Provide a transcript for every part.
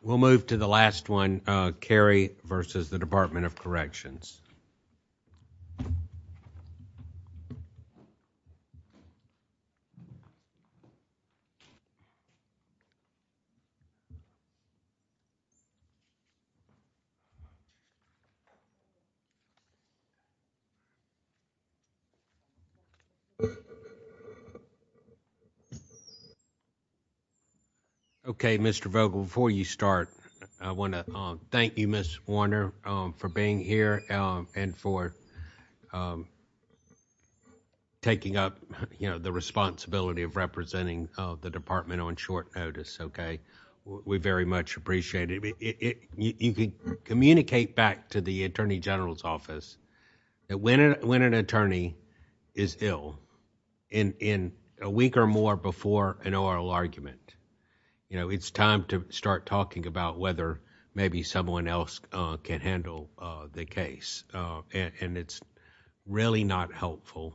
We'll move to the last one, Carey versus the Department of Corrections. Okay, Mr. Vogel, before you start, I want to thank you, Ms. Warner, for being here and for taking up, you know, the responsibility of representing the department on short notice, okay? We very much appreciate it. You can communicate back to the Attorney General's office that when an attorney is ill, in a week or more before an oral argument, you know, it's time to start talking about whether maybe someone else can handle the case. And it's really not helpful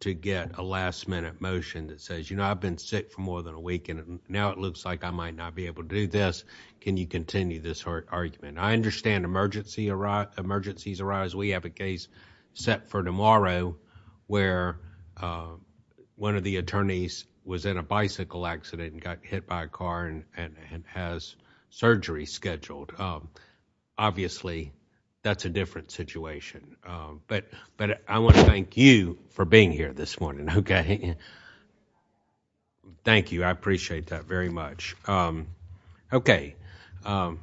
to get a last-minute motion that says, you know, I've been sick for more than a week and now it looks like I might not be able to do this. Can you continue this argument? I understand emergencies arise. We have a case set for tomorrow where one of the attorneys was in a bicycle accident and got hit by a car and has surgery scheduled. Obviously, that's a different situation. But I want to thank you for being here this morning, okay? Thank you. I appreciate that very much. Okay, Mr.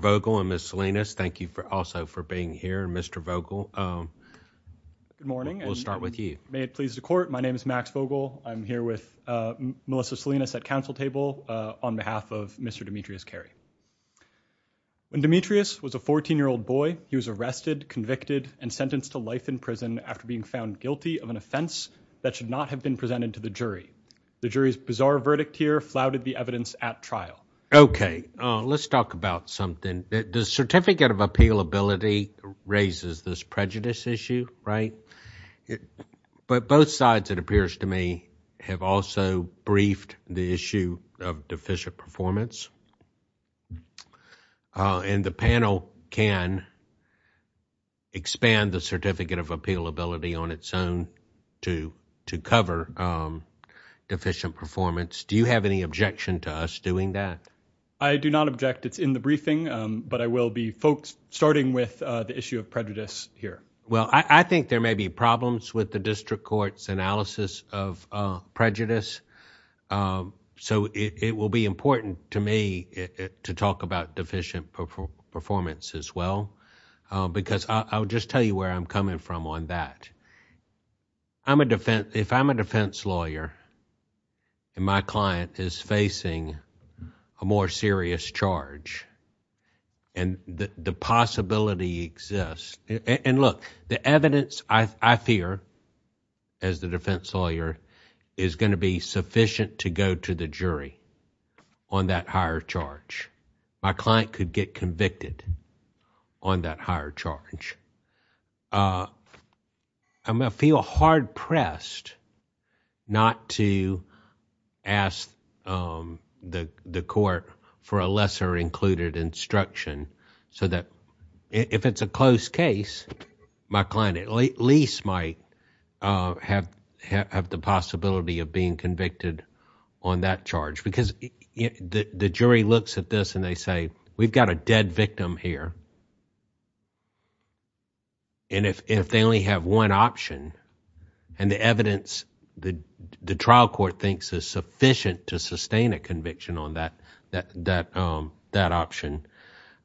Vogel and Ms. Salinas, thank you also for being here. Mr. Vogel, we'll start with you. Good morning, and may it please the Court, my name is Max Vogel. I'm here with Melissa Salinas at counsel table on behalf of Mr. Demetrius Carey. When Demetrius was a 14-year-old boy, he was arrested, convicted, and sentenced to life in prison after being found guilty of an offense that should not have been presented to the jury. The jury's bizarre verdict here flouted the evidence at trial. Okay, let's talk about something. The certificate of appealability raises this prejudice issue, right? But both sides, it appears to me, have also briefed the issue of deficient performance. And the panel can expand the certificate of appealability on its own to cover deficient performance. Do you have any objection to us doing that? I do not object. It's in the briefing, but I will be folks starting with the issue of prejudice here. Well, I think there may be problems with the district court's analysis of prejudice, so it will be important to me to talk about deficient performance as well, because I'll just tell you where I'm coming from on that. If I'm a defense lawyer, and my client is facing a more serious charge, and the possibility exists, and look, the evidence, I fear, as the defense lawyer, is going to be sufficient to go to the jury on that higher charge. My client could get convicted on that higher charge. I'm going to feel hard-pressed not to ask the court for a lesser included instruction, so that if it's a close case, my client at least might have the possibility of being convicted on that charge. Because the jury looks at this, and they say, we've got a dead victim here. And if they only have one option, and the evidence the trial court thinks is sufficient to sustain a conviction on that option,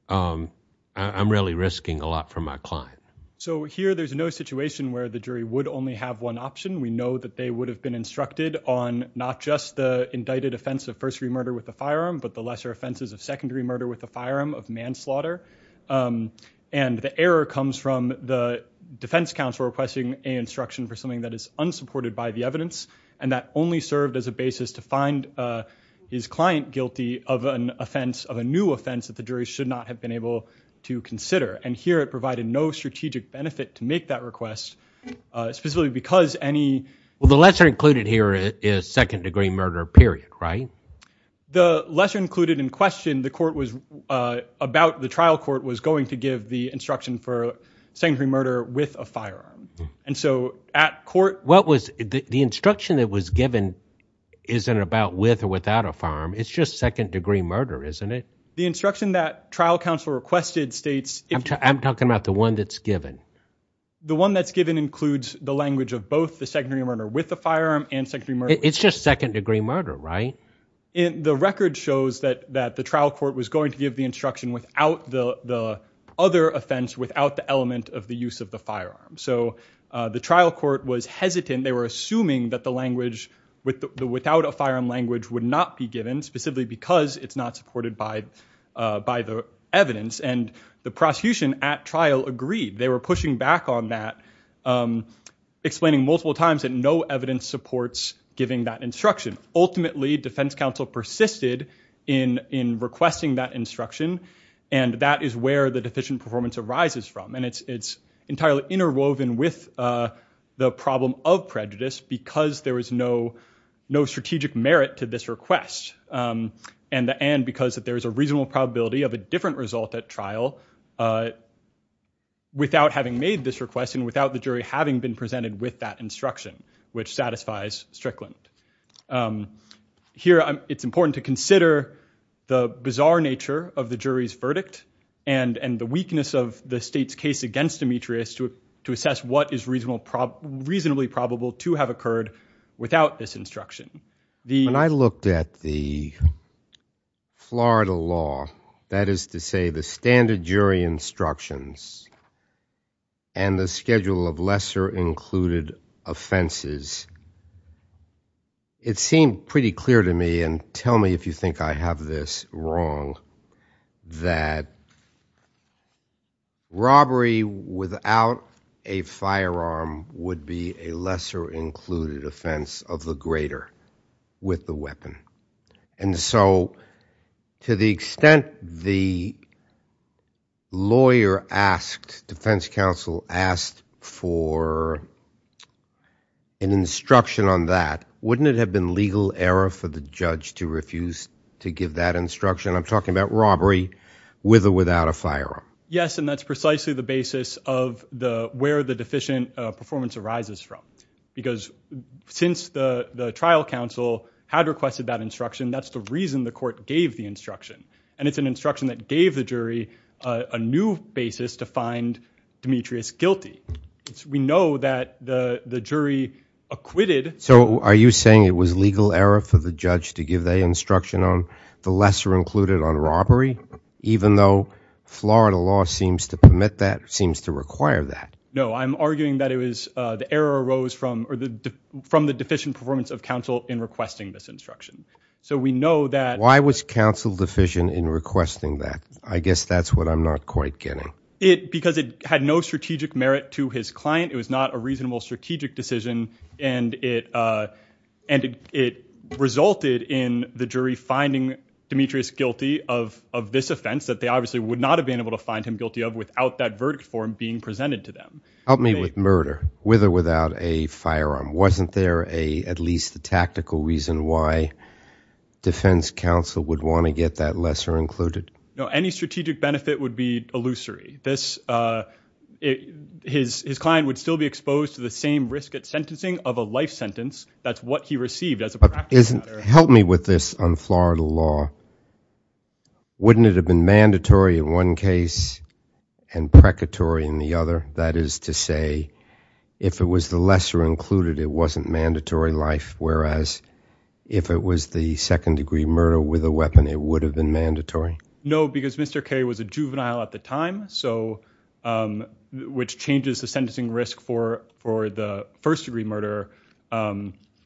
I'm really risking a lot for my client. So here, there's no situation where the jury would only have one option. We know that they would have been instructed on not just the indicted offense of first-degree murder with a firearm, but the lesser offenses of second-degree murder with a firearm of manslaughter. And the error comes from the defense counsel requesting an instruction for something that is unsupported by the evidence, and that only served as a basis to find his client guilty of an offense, of a new offense that the jury should not have been able to consider. And here, it provided no strategic benefit to make that request, specifically because any – Well, the lesser included here is second-degree murder, period, right? The lesser included in question, the court was – about the trial court was going to give the instruction for second-degree murder with a firearm. And so at court – What was – the instruction that was given isn't about with or without a firearm. It's just second-degree murder, isn't it? The instruction that trial counsel requested states – I'm talking about the one that's given. The one that's given includes the language of both the second-degree murder with a firearm and second-degree murder – The record shows that the trial court was going to give the instruction without the other offense, without the element of the use of the firearm. So the trial court was hesitant. They were assuming that the language without a firearm language would not be given, specifically because it's not supported by the evidence. And the prosecution at trial agreed. They were pushing back on that, explaining multiple times that no evidence supports giving that instruction. Ultimately, defense counsel persisted in requesting that instruction, and that is where the deficient performance arises from. And it's entirely interwoven with the problem of prejudice because there was no strategic merit to this request, and because there is a reasonable probability of a different result at trial without having made this request and without the jury having been presented with that instruction, which satisfies Strickland. Here, it's important to consider the bizarre nature of the jury's verdict and the weakness of the state's case against Demetrius to assess what is reasonably probable to have occurred without this instruction. When I looked at the Florida law, that is to say the standard jury instructions, and the schedule of lesser included offenses, it seemed pretty clear to me, and tell me if you think I have this wrong, that robbery without a firearm would be a lesser included offense of the greater with the weapon. And so, to the extent the lawyer asked, defense counsel asked for an instruction on that, wouldn't it have been legal error for the judge to refuse to give that instruction? I'm talking about robbery with or without a firearm. Yes, and that's precisely the basis of where the deficient performance arises from because since the trial counsel had requested that instruction, that's the reason the court gave the instruction, and it's an instruction that gave the jury a new basis to find Demetrius guilty. We know that the jury acquitted... So, are you saying it was legal error for the judge to give the instruction on the lesser included on robbery, even though Florida law seems to permit that, seems to require that? No, I'm arguing that it was the error arose from the deficient performance of counsel in requesting this instruction. So, we know that... Why was counsel deficient in requesting that? I guess that's what I'm not quite getting. Because it had no strategic merit to his client, it was not a reasonable strategic decision, and it resulted in the jury finding Demetrius guilty of this offense that they obviously would not have been able to find him guilty of without that verdict form being presented to them. Help me with murder, with or without a firearm. Wasn't there at least a tactical reason why defense counsel would want to get that lesser included? No, any strategic benefit would be illusory. His client would still be exposed to the same risk at sentencing of a life sentence. That's what he received as a practice matter. Help me with this on Florida law. Wouldn't it have been mandatory in one case and precatory in the other? That is to say, if it was the lesser included, it wasn't mandatory life, whereas if it was the second-degree murder with a weapon, it would have been mandatory? No, because Mr. Carey was a juvenile at the time, which changes the sentencing risk for the first-degree murder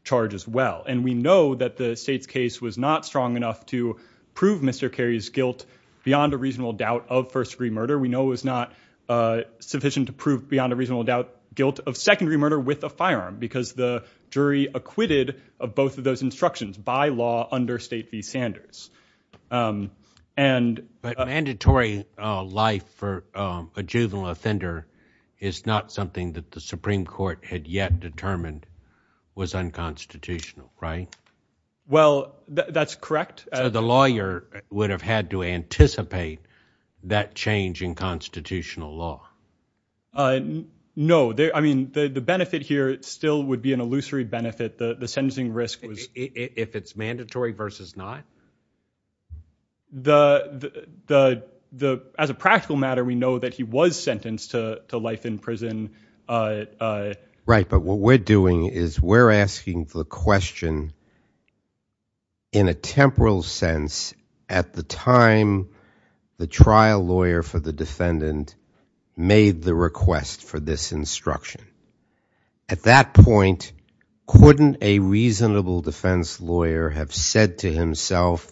charge as well. And we know that the state's case was not strong enough to prove Mr. Carey's guilt beyond a reasonable doubt of first-degree murder. We know it was not sufficient to prove beyond a reasonable doubt guilt of second-degree murder with a firearm because the jury acquitted of both of those instructions by law under State v. Sanders. But mandatory life for a juvenile offender is not something that the Supreme Court had yet determined was unconstitutional, right? Well, that's correct. So the lawyer would have had to anticipate that change in constitutional law? No. I mean, the benefit here still would be an illusory benefit. The sentencing risk was- If it's mandatory versus not? As a practical matter, we know that he was sentenced to life in prison. Right, but what we're doing is we're asking the question in a temporal sense, at the time the trial lawyer for the defendant made the request for this instruction. At that point, couldn't a reasonable defense lawyer have said to himself,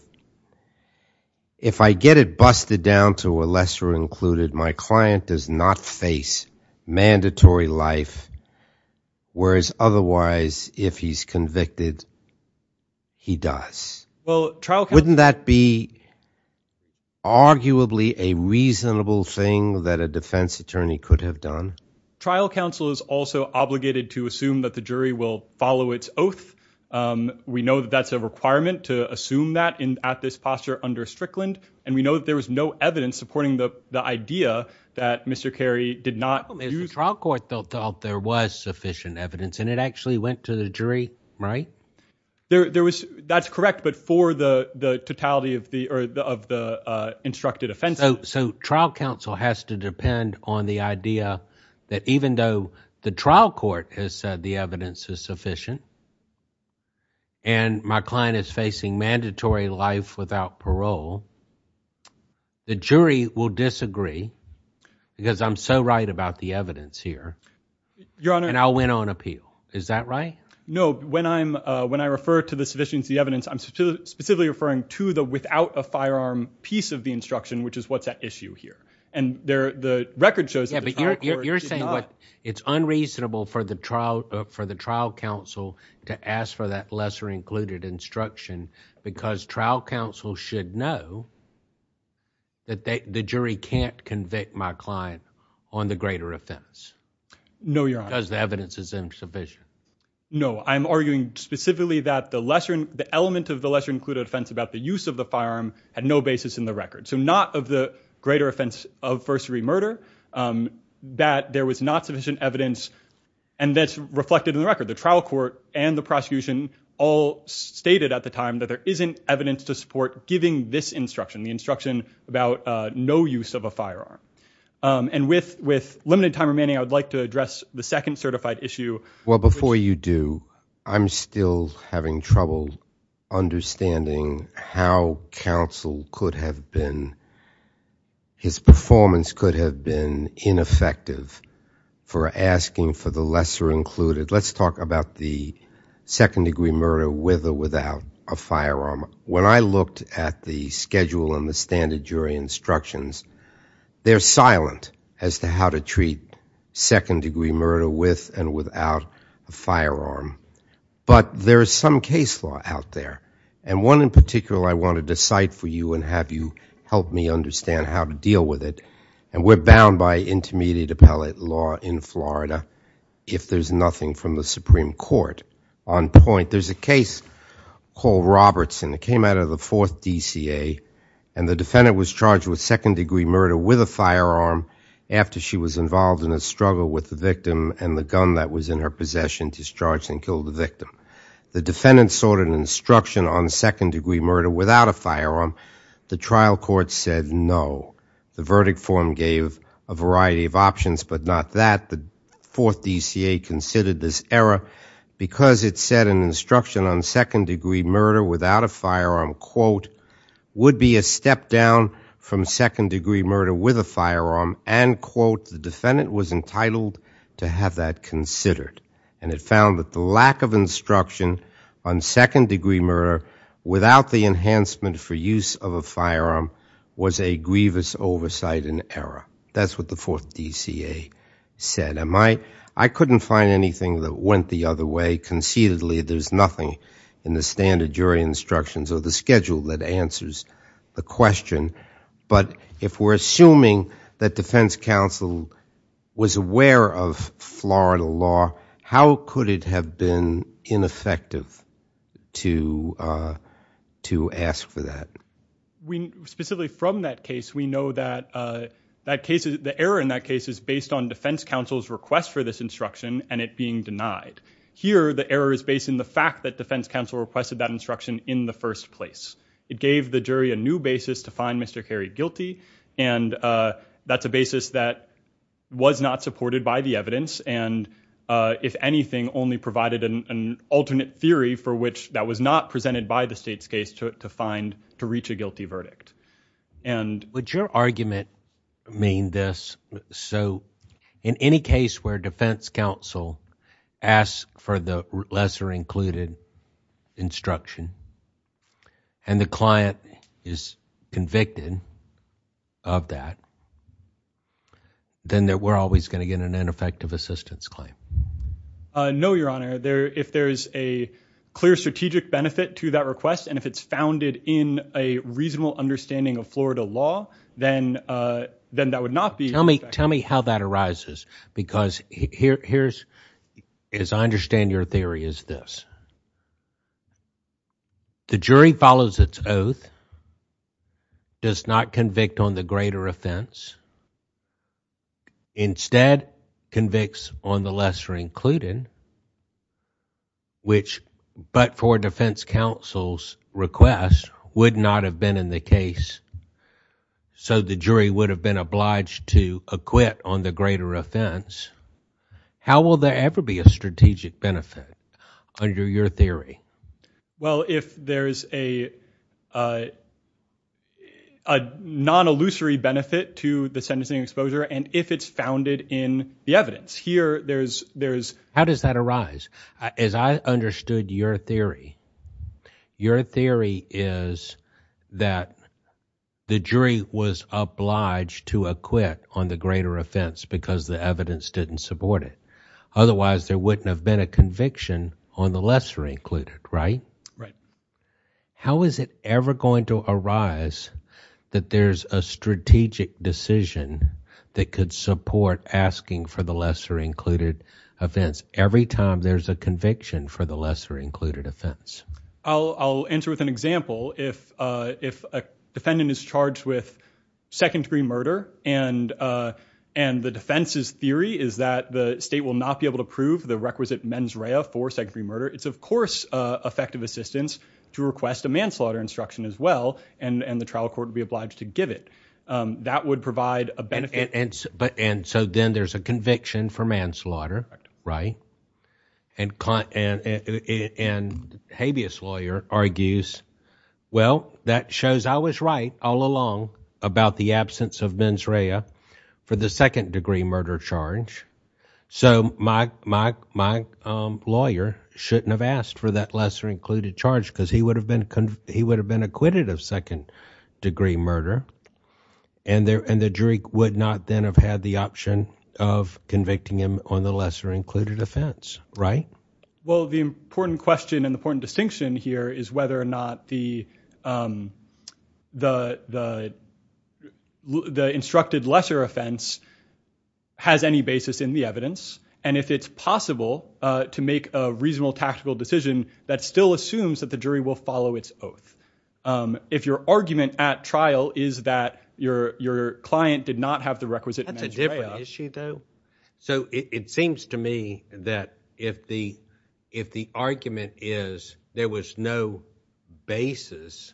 if I get it busted down to a lesser included, my client does not face mandatory life, whereas otherwise, if he's convicted, he does. Wouldn't that be arguably a reasonable thing that a defense attorney could have done? Trial counsel is also obligated to assume that the jury will follow its oath. We know that that's a requirement to assume that at this posture under Strickland, and we know that there was no evidence supporting the idea that Mr. Carey did not use- The trial court thought there was sufficient evidence, and it actually went to the jury, right? That's correct, but for the totality of the instructed offenses- So trial counsel has to depend on the idea that even though the trial court has said the evidence is sufficient, and my client is facing mandatory life without parole, the jury will disagree because I'm so right about the evidence here, and I'll win on appeal. Is that right? No. When I refer to the sufficiency of the evidence, I'm specifically referring to the without a firearm piece of the instruction, which is what's at issue here, and the record shows- Yeah, but you're saying it's unreasonable for the trial counsel to ask for that lesser included instruction because trial counsel should know that the jury can't convict my client on the greater offense. No, Your Honor. Because the evidence is insufficient. No, I'm arguing specifically that the lesser- the element of the lesser included offense about the use of the firearm had no basis in the record, so not of the greater offense of first-degree murder, that there was not sufficient evidence, and that's reflected in the record. The trial court and the prosecution all stated at the time that there isn't evidence to support giving this instruction, the instruction about no use of a firearm, and with limited time remaining, I would like to address the second certified issue. Well, before you do, I'm still having trouble understanding how counsel could have been- his performance could have been ineffective for asking for the lesser included. Let's talk about the second-degree murder with or without a firearm. When I looked at the schedule and the standard jury instructions, they're silent as to how to treat second-degree murder with and without a firearm. But there is some case law out there, and one in particular I wanted to cite for you and have you help me understand how to deal with it, and we're bound by intermediate appellate law in Florida if there's nothing from the Supreme Court on point. There's a case called Robertson. It came out of the 4th DCA, and the defendant was charged with second-degree murder with a firearm after she was involved in a struggle with the victim and the gun that was in her possession discharged and killed the victim. The defendant sought an instruction on second-degree murder without a firearm. The trial court said no. The verdict form gave a variety of options, but not that. The 4th DCA considered this error because it said an instruction on second-degree murder without a firearm, quote, would be a step down from second-degree murder with a firearm, and, quote, the defendant was entitled to have that considered. And it found that the lack of instruction on second-degree murder without the enhancement for use of a firearm was a grievous oversight and error. That's what the 4th DCA said. I couldn't find anything that went the other way. Conceitedly, there's nothing in the standard jury instructions or the schedule that answers the question. But if we're assuming that defense counsel was aware of Florida law, how could it have been ineffective to ask for that? Specifically from that case, we know that the error in that case is based on defense counsel's request for this instruction and it being denied. Here, the error is based in the fact that defense counsel requested that instruction in the first place. It gave the jury a new basis to find Mr. Carey guilty, and that's a basis that was not supported by the evidence and, if anything, only provided an alternate theory for which that was not presented by the state's case to reach a guilty verdict. Would your argument mean this? So, in any case where defense counsel asks for the lesser-included instruction and the client is convicted of that, then we're always going to get an ineffective assistance claim? No, Your Honor. If there's a clear strategic benefit to that request and if it's founded in a reasonable understanding of Florida law, then that would not be effective. Tell me how that arises because, as I understand your theory, it's this. The jury follows its oath, does not convict on the greater offense, instead convicts on the lesser-included, which, but for defense counsel's request, would not have been in the case, so the jury would have been obliged to acquit on the greater offense. How will there ever be a strategic benefit under your theory? Well, if there's a non-illusory benefit to the sentencing exposure and if it's founded in the evidence. Here, there's... How does that arise? As I understood your theory, your theory is that the jury was obliged to acquit on the greater offense because the evidence didn't support it. Otherwise, there wouldn't have been a conviction on the lesser-included, right? Right. How is it ever going to arise that there's a strategic decision that could support asking for the lesser-included offense every time there's a conviction for the lesser-included offense? I'll answer with an example. If a defendant is charged with second-degree murder and the defense's theory is that the state will not be able to prove the requisite mens rea for second-degree murder, it's, of course, effective assistance to request a manslaughter instruction as well, and the trial court would be obliged to give it. That would provide a benefit. And so then there's a conviction for manslaughter, right? And habeas lawyer argues, well, that shows I was right all along about the absence of mens rea for the second-degree murder charge, so my lawyer shouldn't have asked for that lesser-included charge because he would have been acquitted of second-degree murder, and the jury would not then have had the option of convicting him on the lesser-included offense, right? Well, the important question and the important distinction here is whether or not the instructed lesser offense has any basis in the evidence, and if it's possible to make a reasonable tactical decision that still assumes that the jury will follow its oath. If your argument at trial is that your client did not have the requisite mens rea... That's a different issue, though. So it seems to me that if the argument is that there was no basis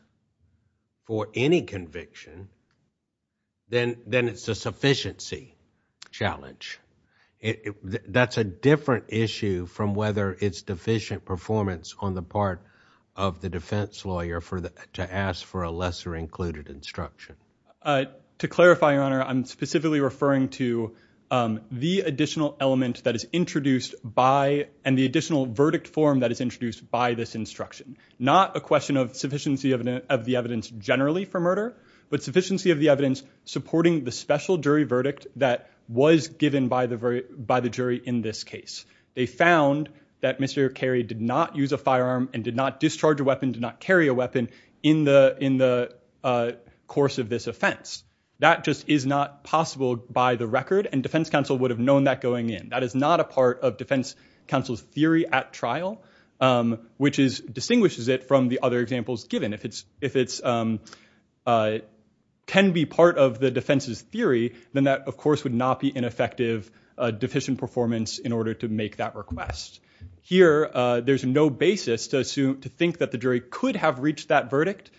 for any conviction, then it's a sufficiency challenge. That's a different issue from whether it's deficient performance on the part of the defense lawyer to ask for a lesser-included instruction. To clarify, Your Honor, I'm specifically referring to the additional element that is introduced by... Not a question of sufficiency of the evidence generally for murder, but sufficiency of the evidence supporting the special jury verdict that was given by the jury in this case. They found that Mr. Carey did not use a firearm and did not discharge a weapon, did not carry a weapon in the course of this offense. That just is not possible by the record, and defense counsel would have known that going in. That is not a part of defense counsel's theory at trial, which distinguishes it from the other examples given. If it can be part of the defense's theory, then that, of course, would not be an effective deficient performance in order to make that request. Here, there's no basis to think that the jury could have reached that verdict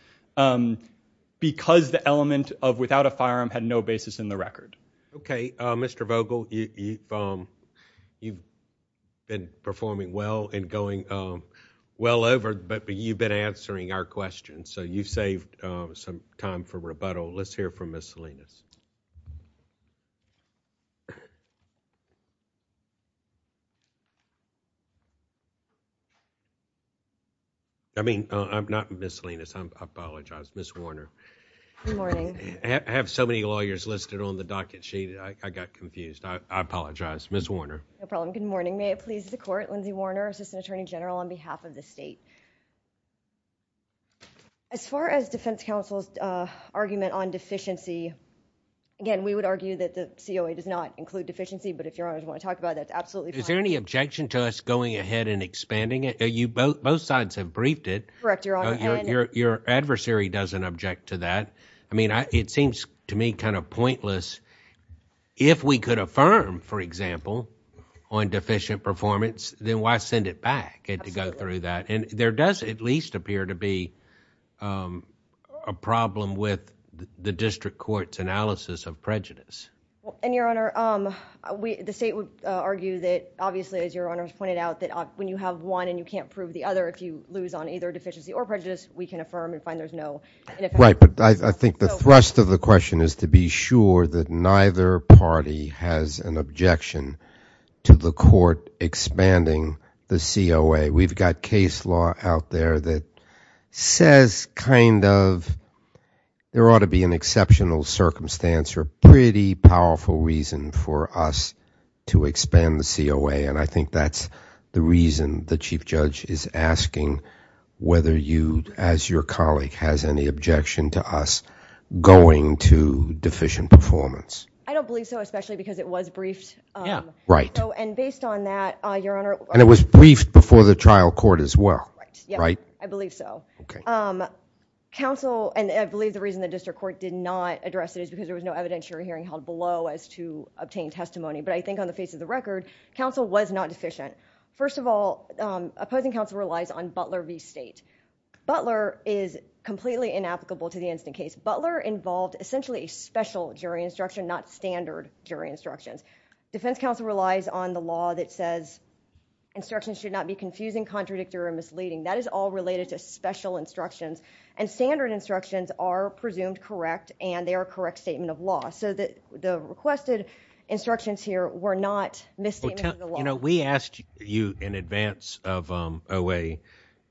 because the element of without a firearm had no basis in the record. Okay, Mr. Vogel, you've been performing well and going well over, but you've been answering our questions, so you've saved some time for rebuttal. Let's hear from Ms. Salinas. I mean, I'm not Ms. Salinas. I apologize. Ms. Warner. Good morning. I have so many lawyers listed on the docket sheet, I got confused. I apologize. Ms. Warner. No problem. Good morning. May it please the court. Lindsay Warner, assistant attorney general on behalf of the state. As far as defense counsel's argument on deficiency, again, we would argue that the COA does not include deficiency, but if Your Honor would want to talk about it, that's absolutely fine. Is there any objection to us going ahead and expanding it? Both sides have briefed it. Correct, Your Honor. Your adversary doesn't object to that. I mean, it seems to me kind of pointless if we could affirm, for example, on deficient performance, then why send it back to go through that? And there does at least appear to be a problem with the district court's analysis of prejudice. And, Your Honor, the state would argue that, obviously, as Your Honor has pointed out, that when you have one and you can't prove the other, if you lose on either deficiency or prejudice, we can affirm and find there's no ineffectiveness. Right, but I think the thrust of the question is to be sure that neither party has an objection to the court expanding the COA. We've got case law out there that says kind of there ought to be an exceptional circumstance or a pretty powerful reason for us to expand the COA, and I think that's the reason the Chief Judge is asking whether you, as your colleague, has any objection to us going to deficient performance. I don't believe so, especially because it was briefed and based on that, Your Honor... And it was briefed before the trial court as well, right? I believe so. Counsel, and I believe the reason the district court did not address it is because there was no evidence your hearing held below as to obtained testimony, but I think on the face of the record, counsel was not deficient. First of all, opposing counsel relies on Butler v. State. Butler is completely inapplicable to the instant case. Butler involved essentially a special jury instruction, not standard jury instructions. Defense counsel relies on the law that says instructions should not be confusing, contradictory, or misleading. That is all related to special instructions, and standard instructions are presumed correct, and they are a correct statement of law. So the requested instructions here were not misstatements of the law. You know, we asked you in advance of OA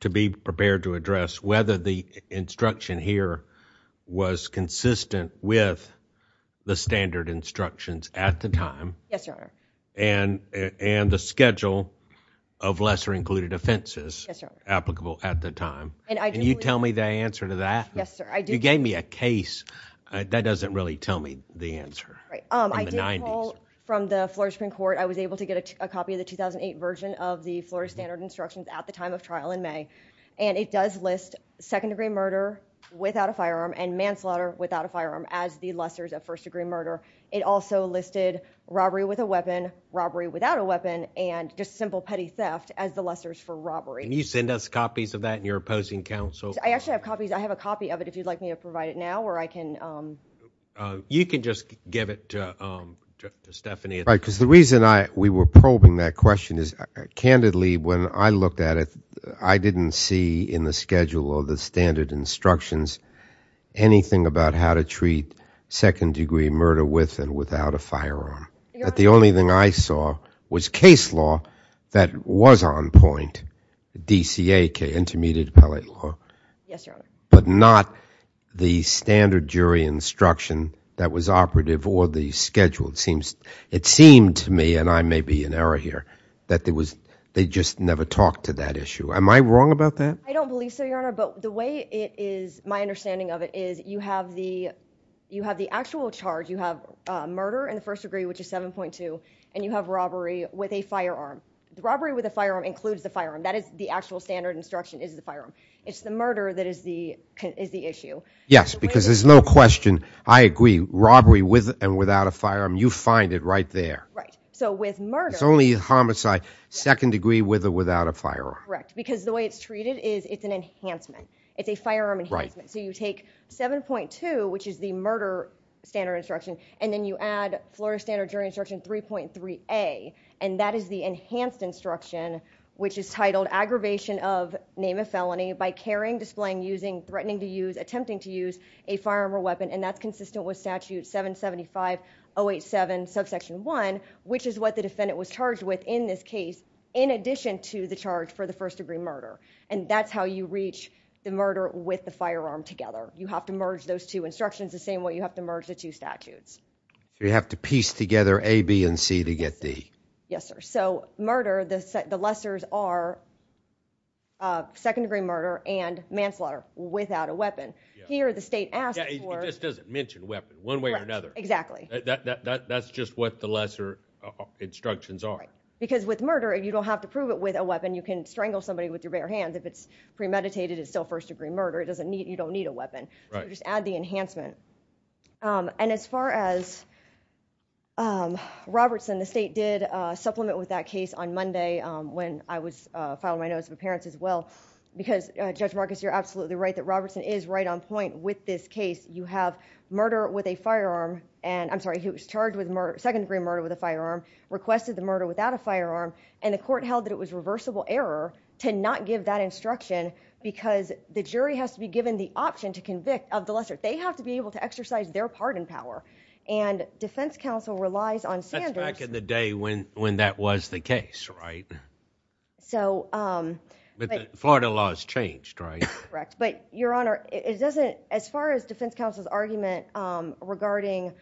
to be prepared to address whether the instruction here was consistent with the standard instructions at the time... Yes, Your Honor. ...and the schedule of lesser-included offenses... Yes, Your Honor. ...applicable at the time. And you tell me the answer to that? Yes, sir. I do. You gave me a case. That doesn't really tell me the answer. Right. I did pull from the Florida Supreme Court. I was able to get a copy of the 2008 version of the Florida standard instructions at the time of trial in May, and it does list second-degree murder without a firearm and manslaughter without a firearm as the lessors of first-degree murder. It also listed robbery with a weapon, robbery without a weapon, and just simple petty theft as the lessors for robbery. Can you send us copies of that in your opposing counsel? I actually have copies. I have a copy of it if you'd like me to provide it now, or I can... You can just give it to Stephanie. Right, because the reason we were probing that question is, candidly, when I looked at it, I didn't see in the schedule or the standard instructions anything about how to treat second-degree murder with and without a firearm. The only thing I saw was case law that was on point, DCA, Intermediate Appellate Law. Yes, Your Honor. But not the standard jury instruction that was operative or the schedule. It seemed to me, and I may be in error here, that they just never talked to that issue. Am I wrong about that? I don't believe so, Your Honor, but the way it is, my understanding of it, is you have the actual charge, you have murder in the first degree, which is 7.2, and you have robbery with a firearm. Robbery with a firearm includes the firearm. That is the actual standard instruction, is the firearm. It's the murder that is the issue. Yes, because there's no question, I agree, robbery with and without a firearm, you find it right there. Right, so with murder... It's only homicide second degree with or without a firearm. Correct, because the way it's treated is it's an enhancement. It's a firearm enhancement. So you take 7.2, which is the murder standard instruction, and then you add Florida Standard Jury Instruction 3.3a, and that is the enhanced instruction, which is titled Aggravation of Name of Felony by Carrying, Displaying, Using, Threatening to Use, Attempting to Use a Firearm or Weapon, and that's consistent with Statute 775.087, subsection 1, which is what the defendant was charged with in this case in addition to the charge for the first-degree murder, and that's how you reach the murder with the firearm together. You have to merge those two instructions the same way you have to merge the two statutes. So you have to piece together A, B, and C to get D. Yes, sir. So murder, the lessors are second-degree murder and manslaughter without a weapon. Here, the state asks for... It just doesn't mention weapon one way or another. Correct, exactly. That's just what the lesser instructions are. Right, because with murder, you don't have to prove it with a weapon. You can strangle somebody with your bare hands. If it's premeditated, it's still first-degree murder. You don't need a weapon. Right. You just add the enhancement. And as far as Robertson, the state did supplement with that case on Monday when I was filing my Notice of Appearance as well because, Judge Marcus, you're absolutely right that Robertson is right on point with this case. You have murder with a firearm and... I'm sorry, he was charged with second-degree murder with a firearm, requested the murder without a firearm, and the court held that it was reversible error to not give that instruction because the jury has to be given the option to convict of the lesser. They have to be able to exercise their pardon power. And defense counsel relies on Sanders... That's back in the day when that was the case, right? So... But the Florida law has changed, right? Correct. But, Your Honor, it doesn't... The defense counsel's argument regarding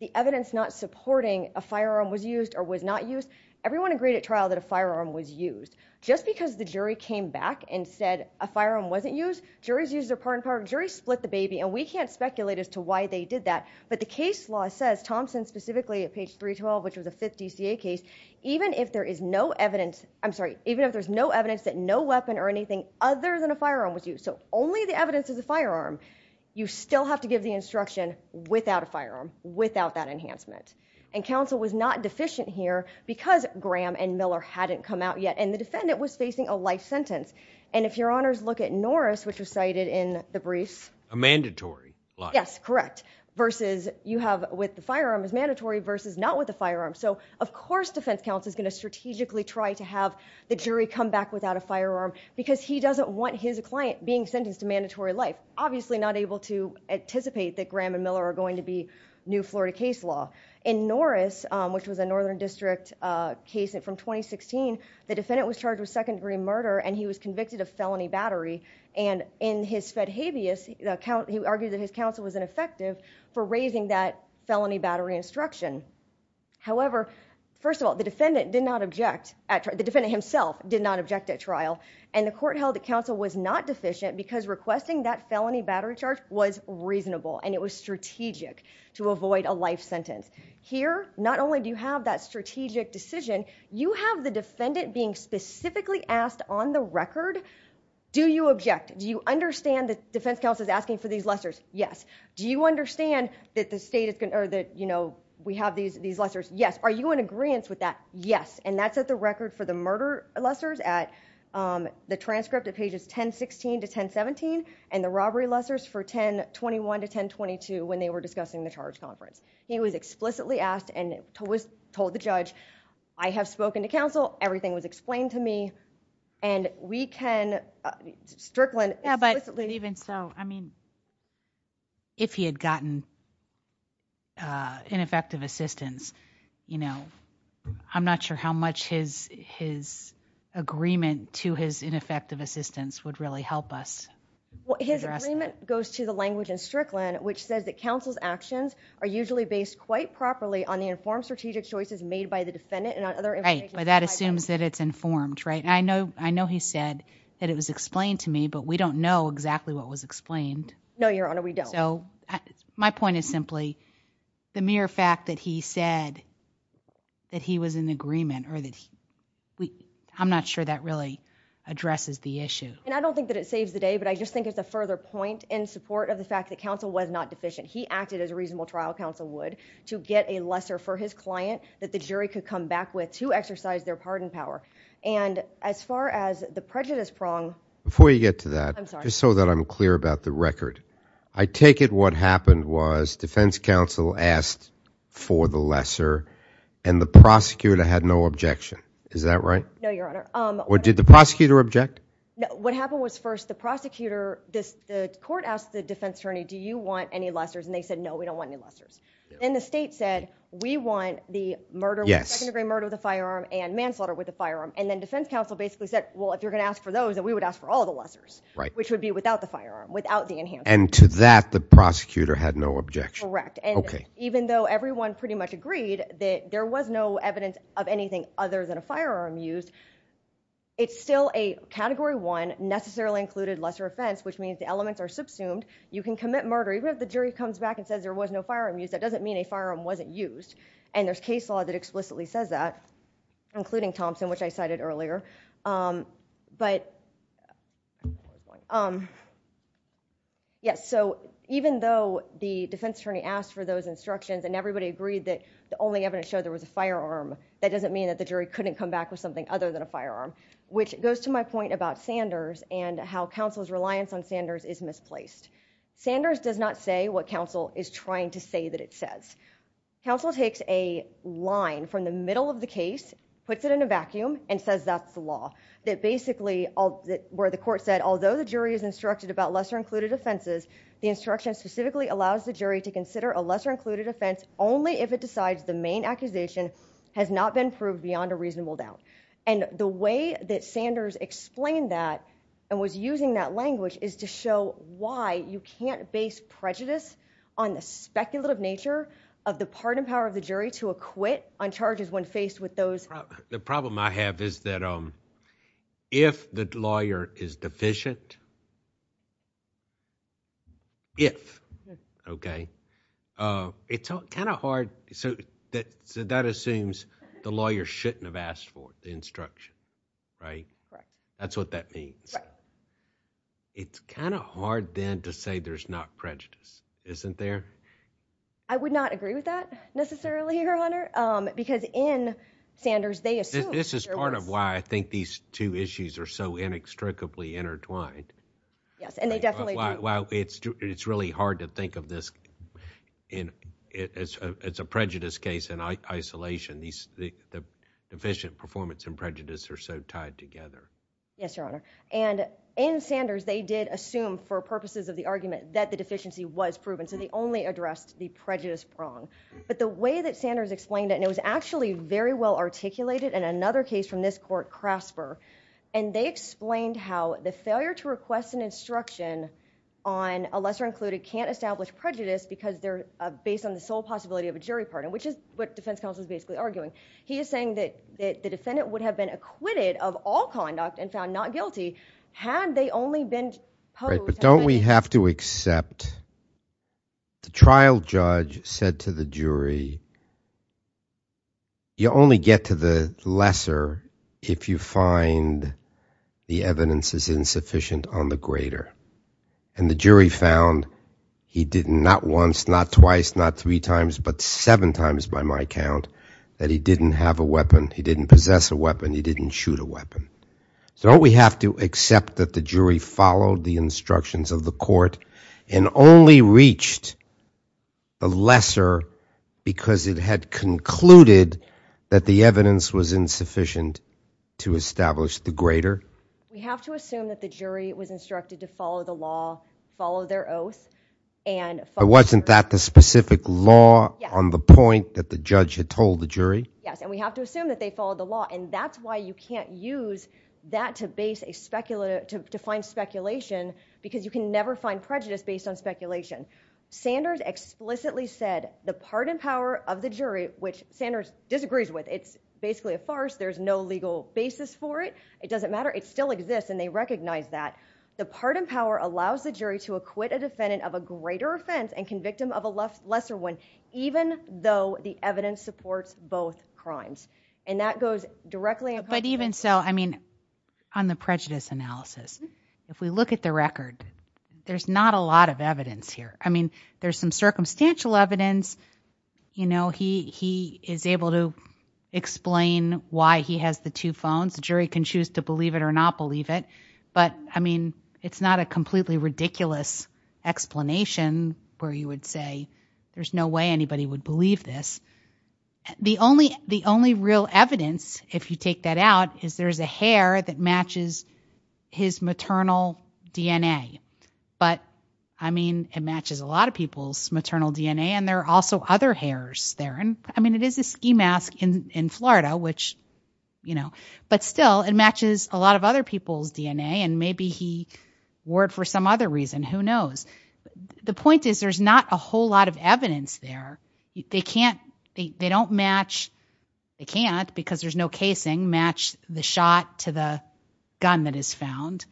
the evidence not supporting a firearm was used or was not used, everyone agreed at trial that a firearm was used. Just because the jury came back and said a firearm wasn't used, juries use their pardon power. Juries split the baby, and we can't speculate as to why they did that. But the case law says, Thompson specifically, at page 312, which was a 5th DCA case, even if there is no evidence... I'm sorry, even if there's no evidence that no weapon or anything other than a firearm was used, so only the evidence is a firearm, you still have to give the instruction without a firearm, without that enhancement. And counsel was not deficient here because Graham and Miller hadn't come out yet, and the defendant was facing a life sentence. And if Your Honors look at Norris, which was cited in the briefs... A mandatory life. Yes, correct. Versus you have with the firearm is mandatory versus not with a firearm. So, of course, defense counsel's going to strategically try to have the jury come back without a firearm because he doesn't want his client being sentenced to mandatory life. But obviously not able to anticipate that Graham and Miller are going to be new Florida case law. In Norris, which was a Northern District case from 2016, the defendant was charged with second-degree murder and he was convicted of felony battery. And in his fed habeas, he argued that his counsel was ineffective for raising that felony battery instruction. However, first of all, the defendant did not object... The defendant himself did not object at trial, and the court held that counsel was not deficient because requesting that felony battery charge was reasonable and it was strategic to avoid a life sentence. Here, not only do you have that strategic decision, you have the defendant being specifically asked on the record, do you object? Do you understand that defense counsel's asking for these lessors? Yes. Do you understand that the state is... Or that, you know, we have these lessors? Yes. Are you in agreeance with that? Yes. And that's at the record for the murder lessors at the transcript at pages 1016 to 1017 and the robbery lessors for 1021 to 1022 when they were discussing the charge conference. He was explicitly asked and told the judge, I have spoken to counsel, everything was explained to me, and we can strictly... Yeah, but even so, I mean, if he had gotten ineffective assistance, you know, I'm not sure how much his agreement to his ineffective assistance would really help us. Well, his agreement goes to the language in Strickland which says that counsel's actions are usually based quite properly on the informed strategic choices made by the defendant and on other... Right, but that assumes that it's informed, right? And I know he said that it was explained to me, but we don't know exactly what was explained. No, Your Honor, we don't. So my point is simply the mere fact that he said that he was in agreement or that he... I'm not sure that really addresses the issue. And I don't think that it saves the day, but I just think it's a further point in support of the fact that counsel was not deficient. He acted as a reasonable trial counsel would to get a lesser for his client that the jury could come back with to exercise their pardon power. And as far as the prejudice prong... Before you get to that, just so that I'm clear about the record, I take it what happened was defense counsel asked for the lesser and the prosecutor had no objection. Is that right? No, Your Honor. Or did the prosecutor object? No, what happened was first the prosecutor... The court asked the defense attorney, do you want any lessers? And they said, no, we don't want any lessers. And the state said, we want the murder... Yes. Second-degree murder with a firearm and manslaughter with a firearm. And then defense counsel basically said, well, if you're going to ask for those, then we would ask for all the lessers. Right. Which would be without the firearm, without the enhancements. And to that the prosecutor had no objection. Correct. And even though everyone pretty much agreed that there was no evidence of anything other than a firearm used, it's still a Category 1 necessarily included lesser offense, which means the elements are subsumed. You can commit murder even if the jury comes back and says there was no firearm used. That doesn't mean a firearm wasn't used. And there's case law that explicitly says that, including Thompson, which I cited earlier. But... Yes. So even though the defense attorney asked for those instructions and everybody agreed that the only evidence showed there was a firearm, that doesn't mean that the jury couldn't come back with something other than a firearm. Which goes to my point about Sanders and how counsel's reliance on Sanders is misplaced. Sanders does not say what counsel is trying to say that it says. Counsel takes a line from the middle of the case, puts it in a vacuum and says that's the law. That basically, where the court said, although the jury is instructed about lesser included offenses, the instruction specifically allows the jury to consider a lesser included offense only if it decides the main accusation has not been proved beyond a reasonable doubt. And the way that Sanders explained that and was using that language is to show why you can't base prejudice on the speculative nature of the pardon power of the jury to acquit on charges when faced with those... The problem I have is that if the lawyer is deficient, if, okay, it's kind of hard... So that assumes the lawyer shouldn't have asked for the instruction, right? Right. That's what that means. Right. It's kind of hard then to say there's not prejudice, isn't there? I would not agree with that necessarily, Your Honor, because in Sanders, they assumed... This is part of why I think these two issues are so inextricably intertwined. Yes, and they definitely... It's really hard to think of this... It's a prejudice case in isolation. The deficient performance and prejudice are so tied together. Yes, Your Honor. And in Sanders, they did assume for purposes of the argument that the deficiency was proven. So they only addressed the prejudice prong. But the way that Sanders explained it, and it was actually very well articulated in another case from this court, Crasper, and they explained how the failure to request an instruction on a lesser included can't establish prejudice because they're based on the sole possibility of a jury pardon, which is what defense counsel is basically arguing. He is saying that the defendant would have been acquitted of all conduct and found not guilty had they only been... The trial judge said to the jury, you only get to the lesser if you find the evidence is insufficient on the greater. And the jury found he did not once, not twice, not three times, but seven times by my count that he didn't have a weapon, he didn't possess a weapon, he didn't shoot a weapon. So don't we have to accept that the jury followed the instructions of the court and only reached the lesser because it had concluded that the evidence was insufficient to establish the greater? We have to assume that the jury was instructed to follow the law, follow their oath, and follow... But wasn't that the specific law on the point that the judge had told the jury? Yes, and we have to assume that they followed the law, and that's why you can't use that to find speculation because you can never find prejudice based on speculation. Sanders explicitly said the pardon power of the jury, which Sanders disagrees with, it's basically a farce, there's no legal basis for it, it doesn't matter, it still exists, and they recognize that, the pardon power allows the jury to acquit a defendant of a greater offense and convict him of a lesser one even though the evidence supports both crimes. And that goes directly... But even so, I mean, on the prejudice analysis, if we look at the record, there's not a lot of evidence here. I mean, there's some circumstantial evidence, you know, he is able to explain why he has the two phones, the jury can choose to believe it or not believe it, but, I mean, it's not a completely ridiculous explanation where you would say there's no way anybody would believe this. The only real evidence, if you take that out, is there's a hair that matches his maternal DNA. But, I mean, it matches a lot of people's maternal DNA, and there are also other hairs there. I mean, it is a ski mask in Florida, which, you know... But still, it matches a lot of other people's DNA, and maybe he wore it for some other reason, who knows. The point is there's not a whole lot of evidence there. They can't... they don't match... They can't, because there's no casing, match the shot to the gun that is found.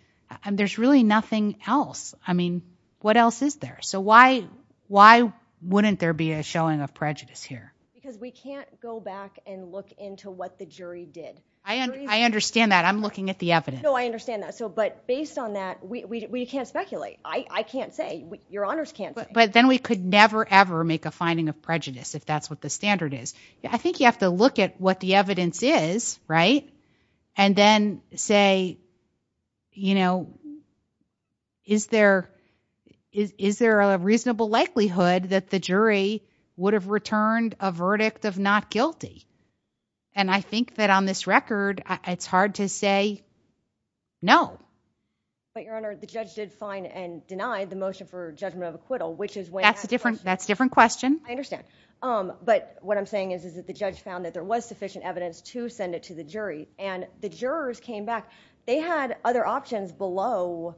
There's really nothing else. I mean, what else is there? So why wouldn't there be a showing of prejudice here? Because we can't go back and look into what the jury did. I understand that. I'm looking at the evidence. No, I understand that. But based on that, we can't speculate. I can't say. Your Honors can't say. But then we could never, ever make a finding of prejudice, if that's what the standard is. I think you have to look at what the evidence is, right? And then say, you know, is there a reasonable likelihood that the jury would have returned a verdict of not guilty? And I think that on this record, it's hard to say no. But Your Honor, the judge did fine and deny the motion for judgment of acquittal, which is when... That's a different question. I understand. But what I'm saying is that the judge found that there was sufficient evidence to send it to the jury, and the jurors came back. They had other options below.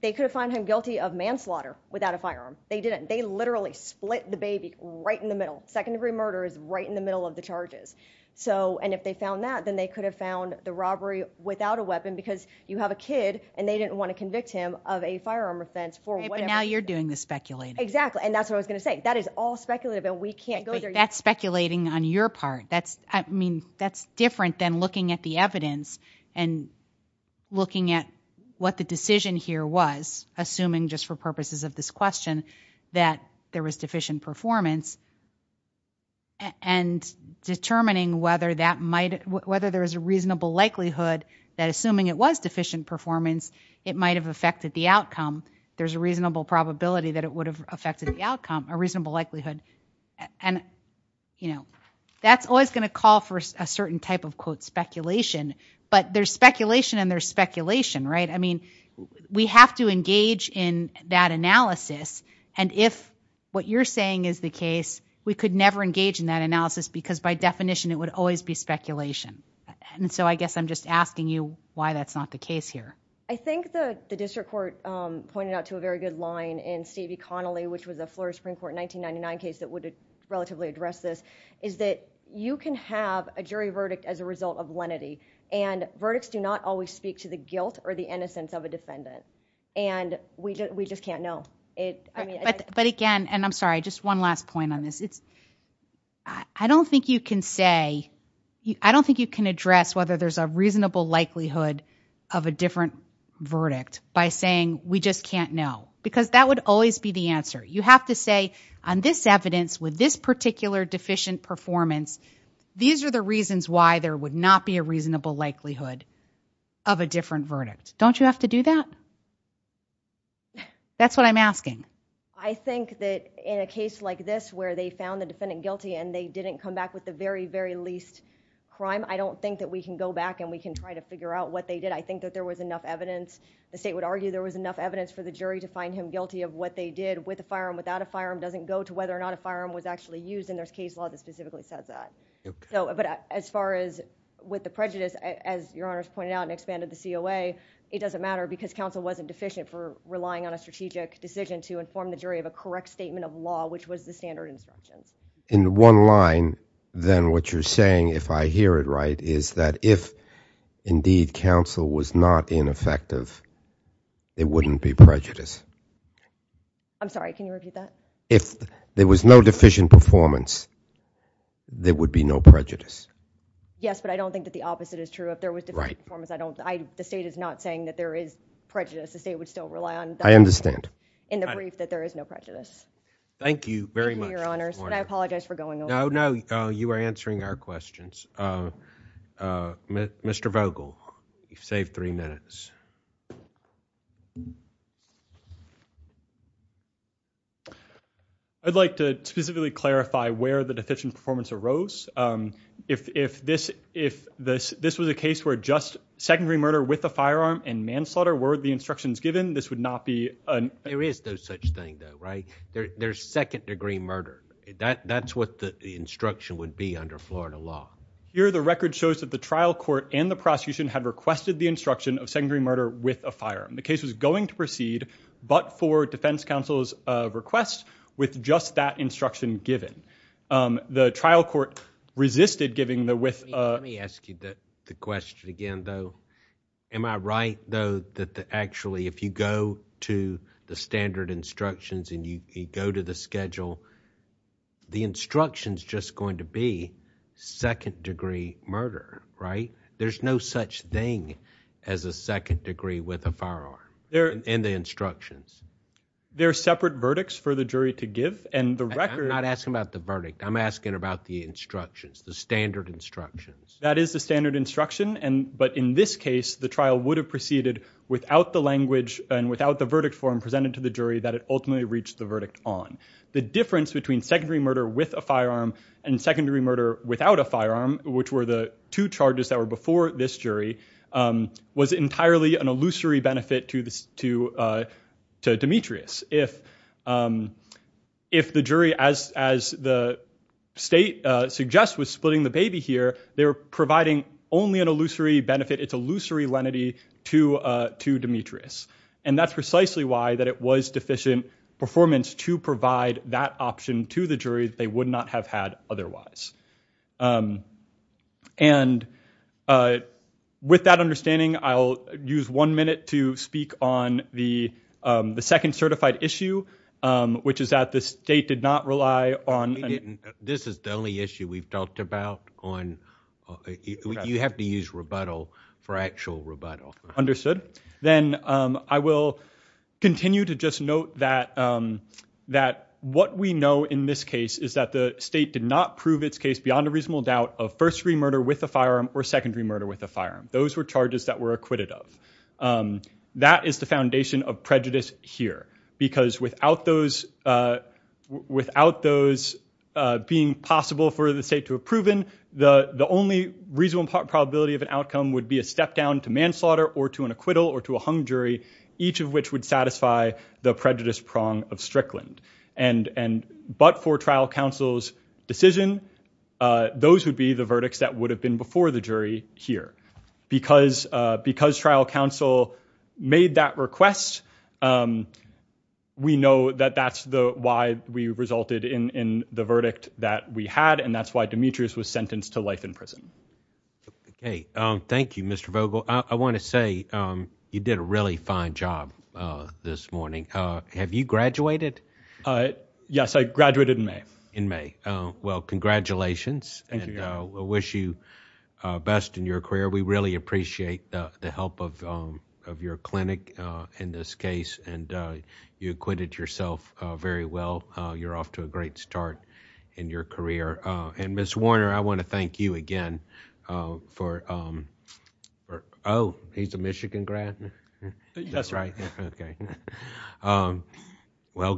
They could have found him guilty of manslaughter without a firearm. They didn't. They literally split the baby right in the middle. Second-degree murder is right in the middle of the charges. And if they found that, then they could have found the robbery without a weapon, because you have a kid, and they didn't want to convict him of a firearm offense for whatever... Okay, but now you're doing the speculating. Exactly, and that's what I was going to say. That is all speculative, and we can't go there yet. But that's speculating on your part. I mean, that's different than looking at the evidence and looking at what the decision here was, assuming just for purposes of this question, that there was deficient performance, and determining whether that might... whether there is a reasonable likelihood that assuming it was deficient performance, it might have affected the outcome. There's a reasonable probability that it would have affected the outcome, a reasonable likelihood. And, you know, that's always going to call for a certain type of, quote, speculation. But there's speculation, and there's speculation, right? I mean, we have to engage in that analysis. And if what you're saying is the case, we could never engage in that analysis, because by definition, it would always be speculation. And so, I guess I'm just asking you why that's not the case here. I think the district court pointed out to a very good line in Stevie Connolly, which was a Florida Supreme Court 1999 case that would relatively address this, is that you can have a jury verdict as a result of lenity, and verdicts do not always speak to the guilt or the innocence of a defendant. And we just can't know. But again, and I'm sorry, just one last point on this. I don't think you can say... by saying, we just can't know. Because that would always be the answer. You have to say, on this evidence, with this particular deficient performance, these are the reasons why there would not be a reasonable likelihood of a different verdict. Don't you have to do that? That's what I'm asking. I think that in a case like this, where they found the defendant guilty and they didn't come back with the very, very least crime, I don't think that we can go back and we can try to figure out what they did. I think that there was enough evidence... the state would argue there was enough evidence for the jury to find him guilty of what they did with a firearm, without a firearm. It doesn't go to whether or not a firearm was actually used, and there's case law that specifically says that. Okay. But as far as with the prejudice, as Your Honor's pointed out, and expanded the COA, it doesn't matter, because counsel wasn't deficient for relying on a strategic decision to inform the jury of a correct statement of law, which was the standard instructions. In one line, then, what you're saying, if I hear it right, is that if, indeed, counsel was not ineffective, there wouldn't be prejudice. I'm sorry, can you repeat that? If there was no deficient performance, there would be no prejudice. Yes, but I don't think that the opposite is true. If there was deficient performance, I don't... the state is not saying that there is prejudice. The state would still rely on... I understand. In the brief, that there is no prejudice. Thank you very much. Thank you, Your Honor. I apologize for going over. No, no. You are answering our questions. Mr. Vogel, you've saved three minutes. I'd like to specifically clarify where the deficient performance arose. If this was a case where just secondary murder with a firearm and manslaughter were the instructions given, this would not be... There is no such thing, though, right? There's second-degree murder. That's what the instruction would be under Florida law. Here, the record shows that the trial court and the prosecution had requested the instruction of secondary murder with a firearm. The case was going to proceed, but for defense counsel's request, with just that instruction given. The trial court resisted giving the... Let me ask you the question again, though. Am I right, though, that actually if you go to the standard instructions and you go to the schedule, the instruction's just going to be second-degree murder, right? There's no such thing as a second degree with a firearm in the instructions. There are separate verdicts for the jury to give, and the record... I'm not asking about the verdict. I'm asking about the instructions, the standard instructions. That is the standard instruction, but in this case, the trial would have proceeded without the language and without the verdict form presented to the jury that it ultimately reached the verdict on. The difference between secondary murder with a firearm and secondary murder without a firearm, which were the two charges that were before this jury, was entirely an illusory benefit to Demetrius. If the jury, as the state suggests, was splitting the baby here, they were providing only an illusory benefit, it's illusory lenity to Demetrius, and that's precisely why that it was deficient performance to provide that option to the jury that they would not have had otherwise. And with that understanding, I'll use one minute to speak on the second certified issue, which is that the state did not rely on... This is the only issue we've talked about on... You have to use rebuttal for actual rebuttal. Understood. Then I will continue to just note that what we know in this case is that the state did not prove its case beyond a reasonable doubt of first degree murder with a firearm or secondary murder with a firearm. Those were charges that were acquitted of. That is the foundation of prejudice here, because without those being possible for the state to have proven, the only reasonable probability of an outcome would be a step down to manslaughter or to an acquittal or to a hung jury, each of which would satisfy the prejudice prong of Strickland. But for trial counsel's decision, those would be the verdicts that would have been before the jury here. Because trial counsel made that request, we know that that's why we resulted in the verdict that we had, and that's why Demetrius was sentenced to life in prison. Okay. Thank you, Mr. Vogel. I want to say you did a really fine job this morning. Have you graduated? Yes, I graduated in May. In May. Well, congratulations. Thank you. And we wish you best in your career. We really appreciate the help of your clinic in this case, and you acquitted yourself very well. You're off to a great start in your career. And, Ms. Warner, I want to thank you again for – oh, he's a Michigan grad? That's right. Okay. Well done.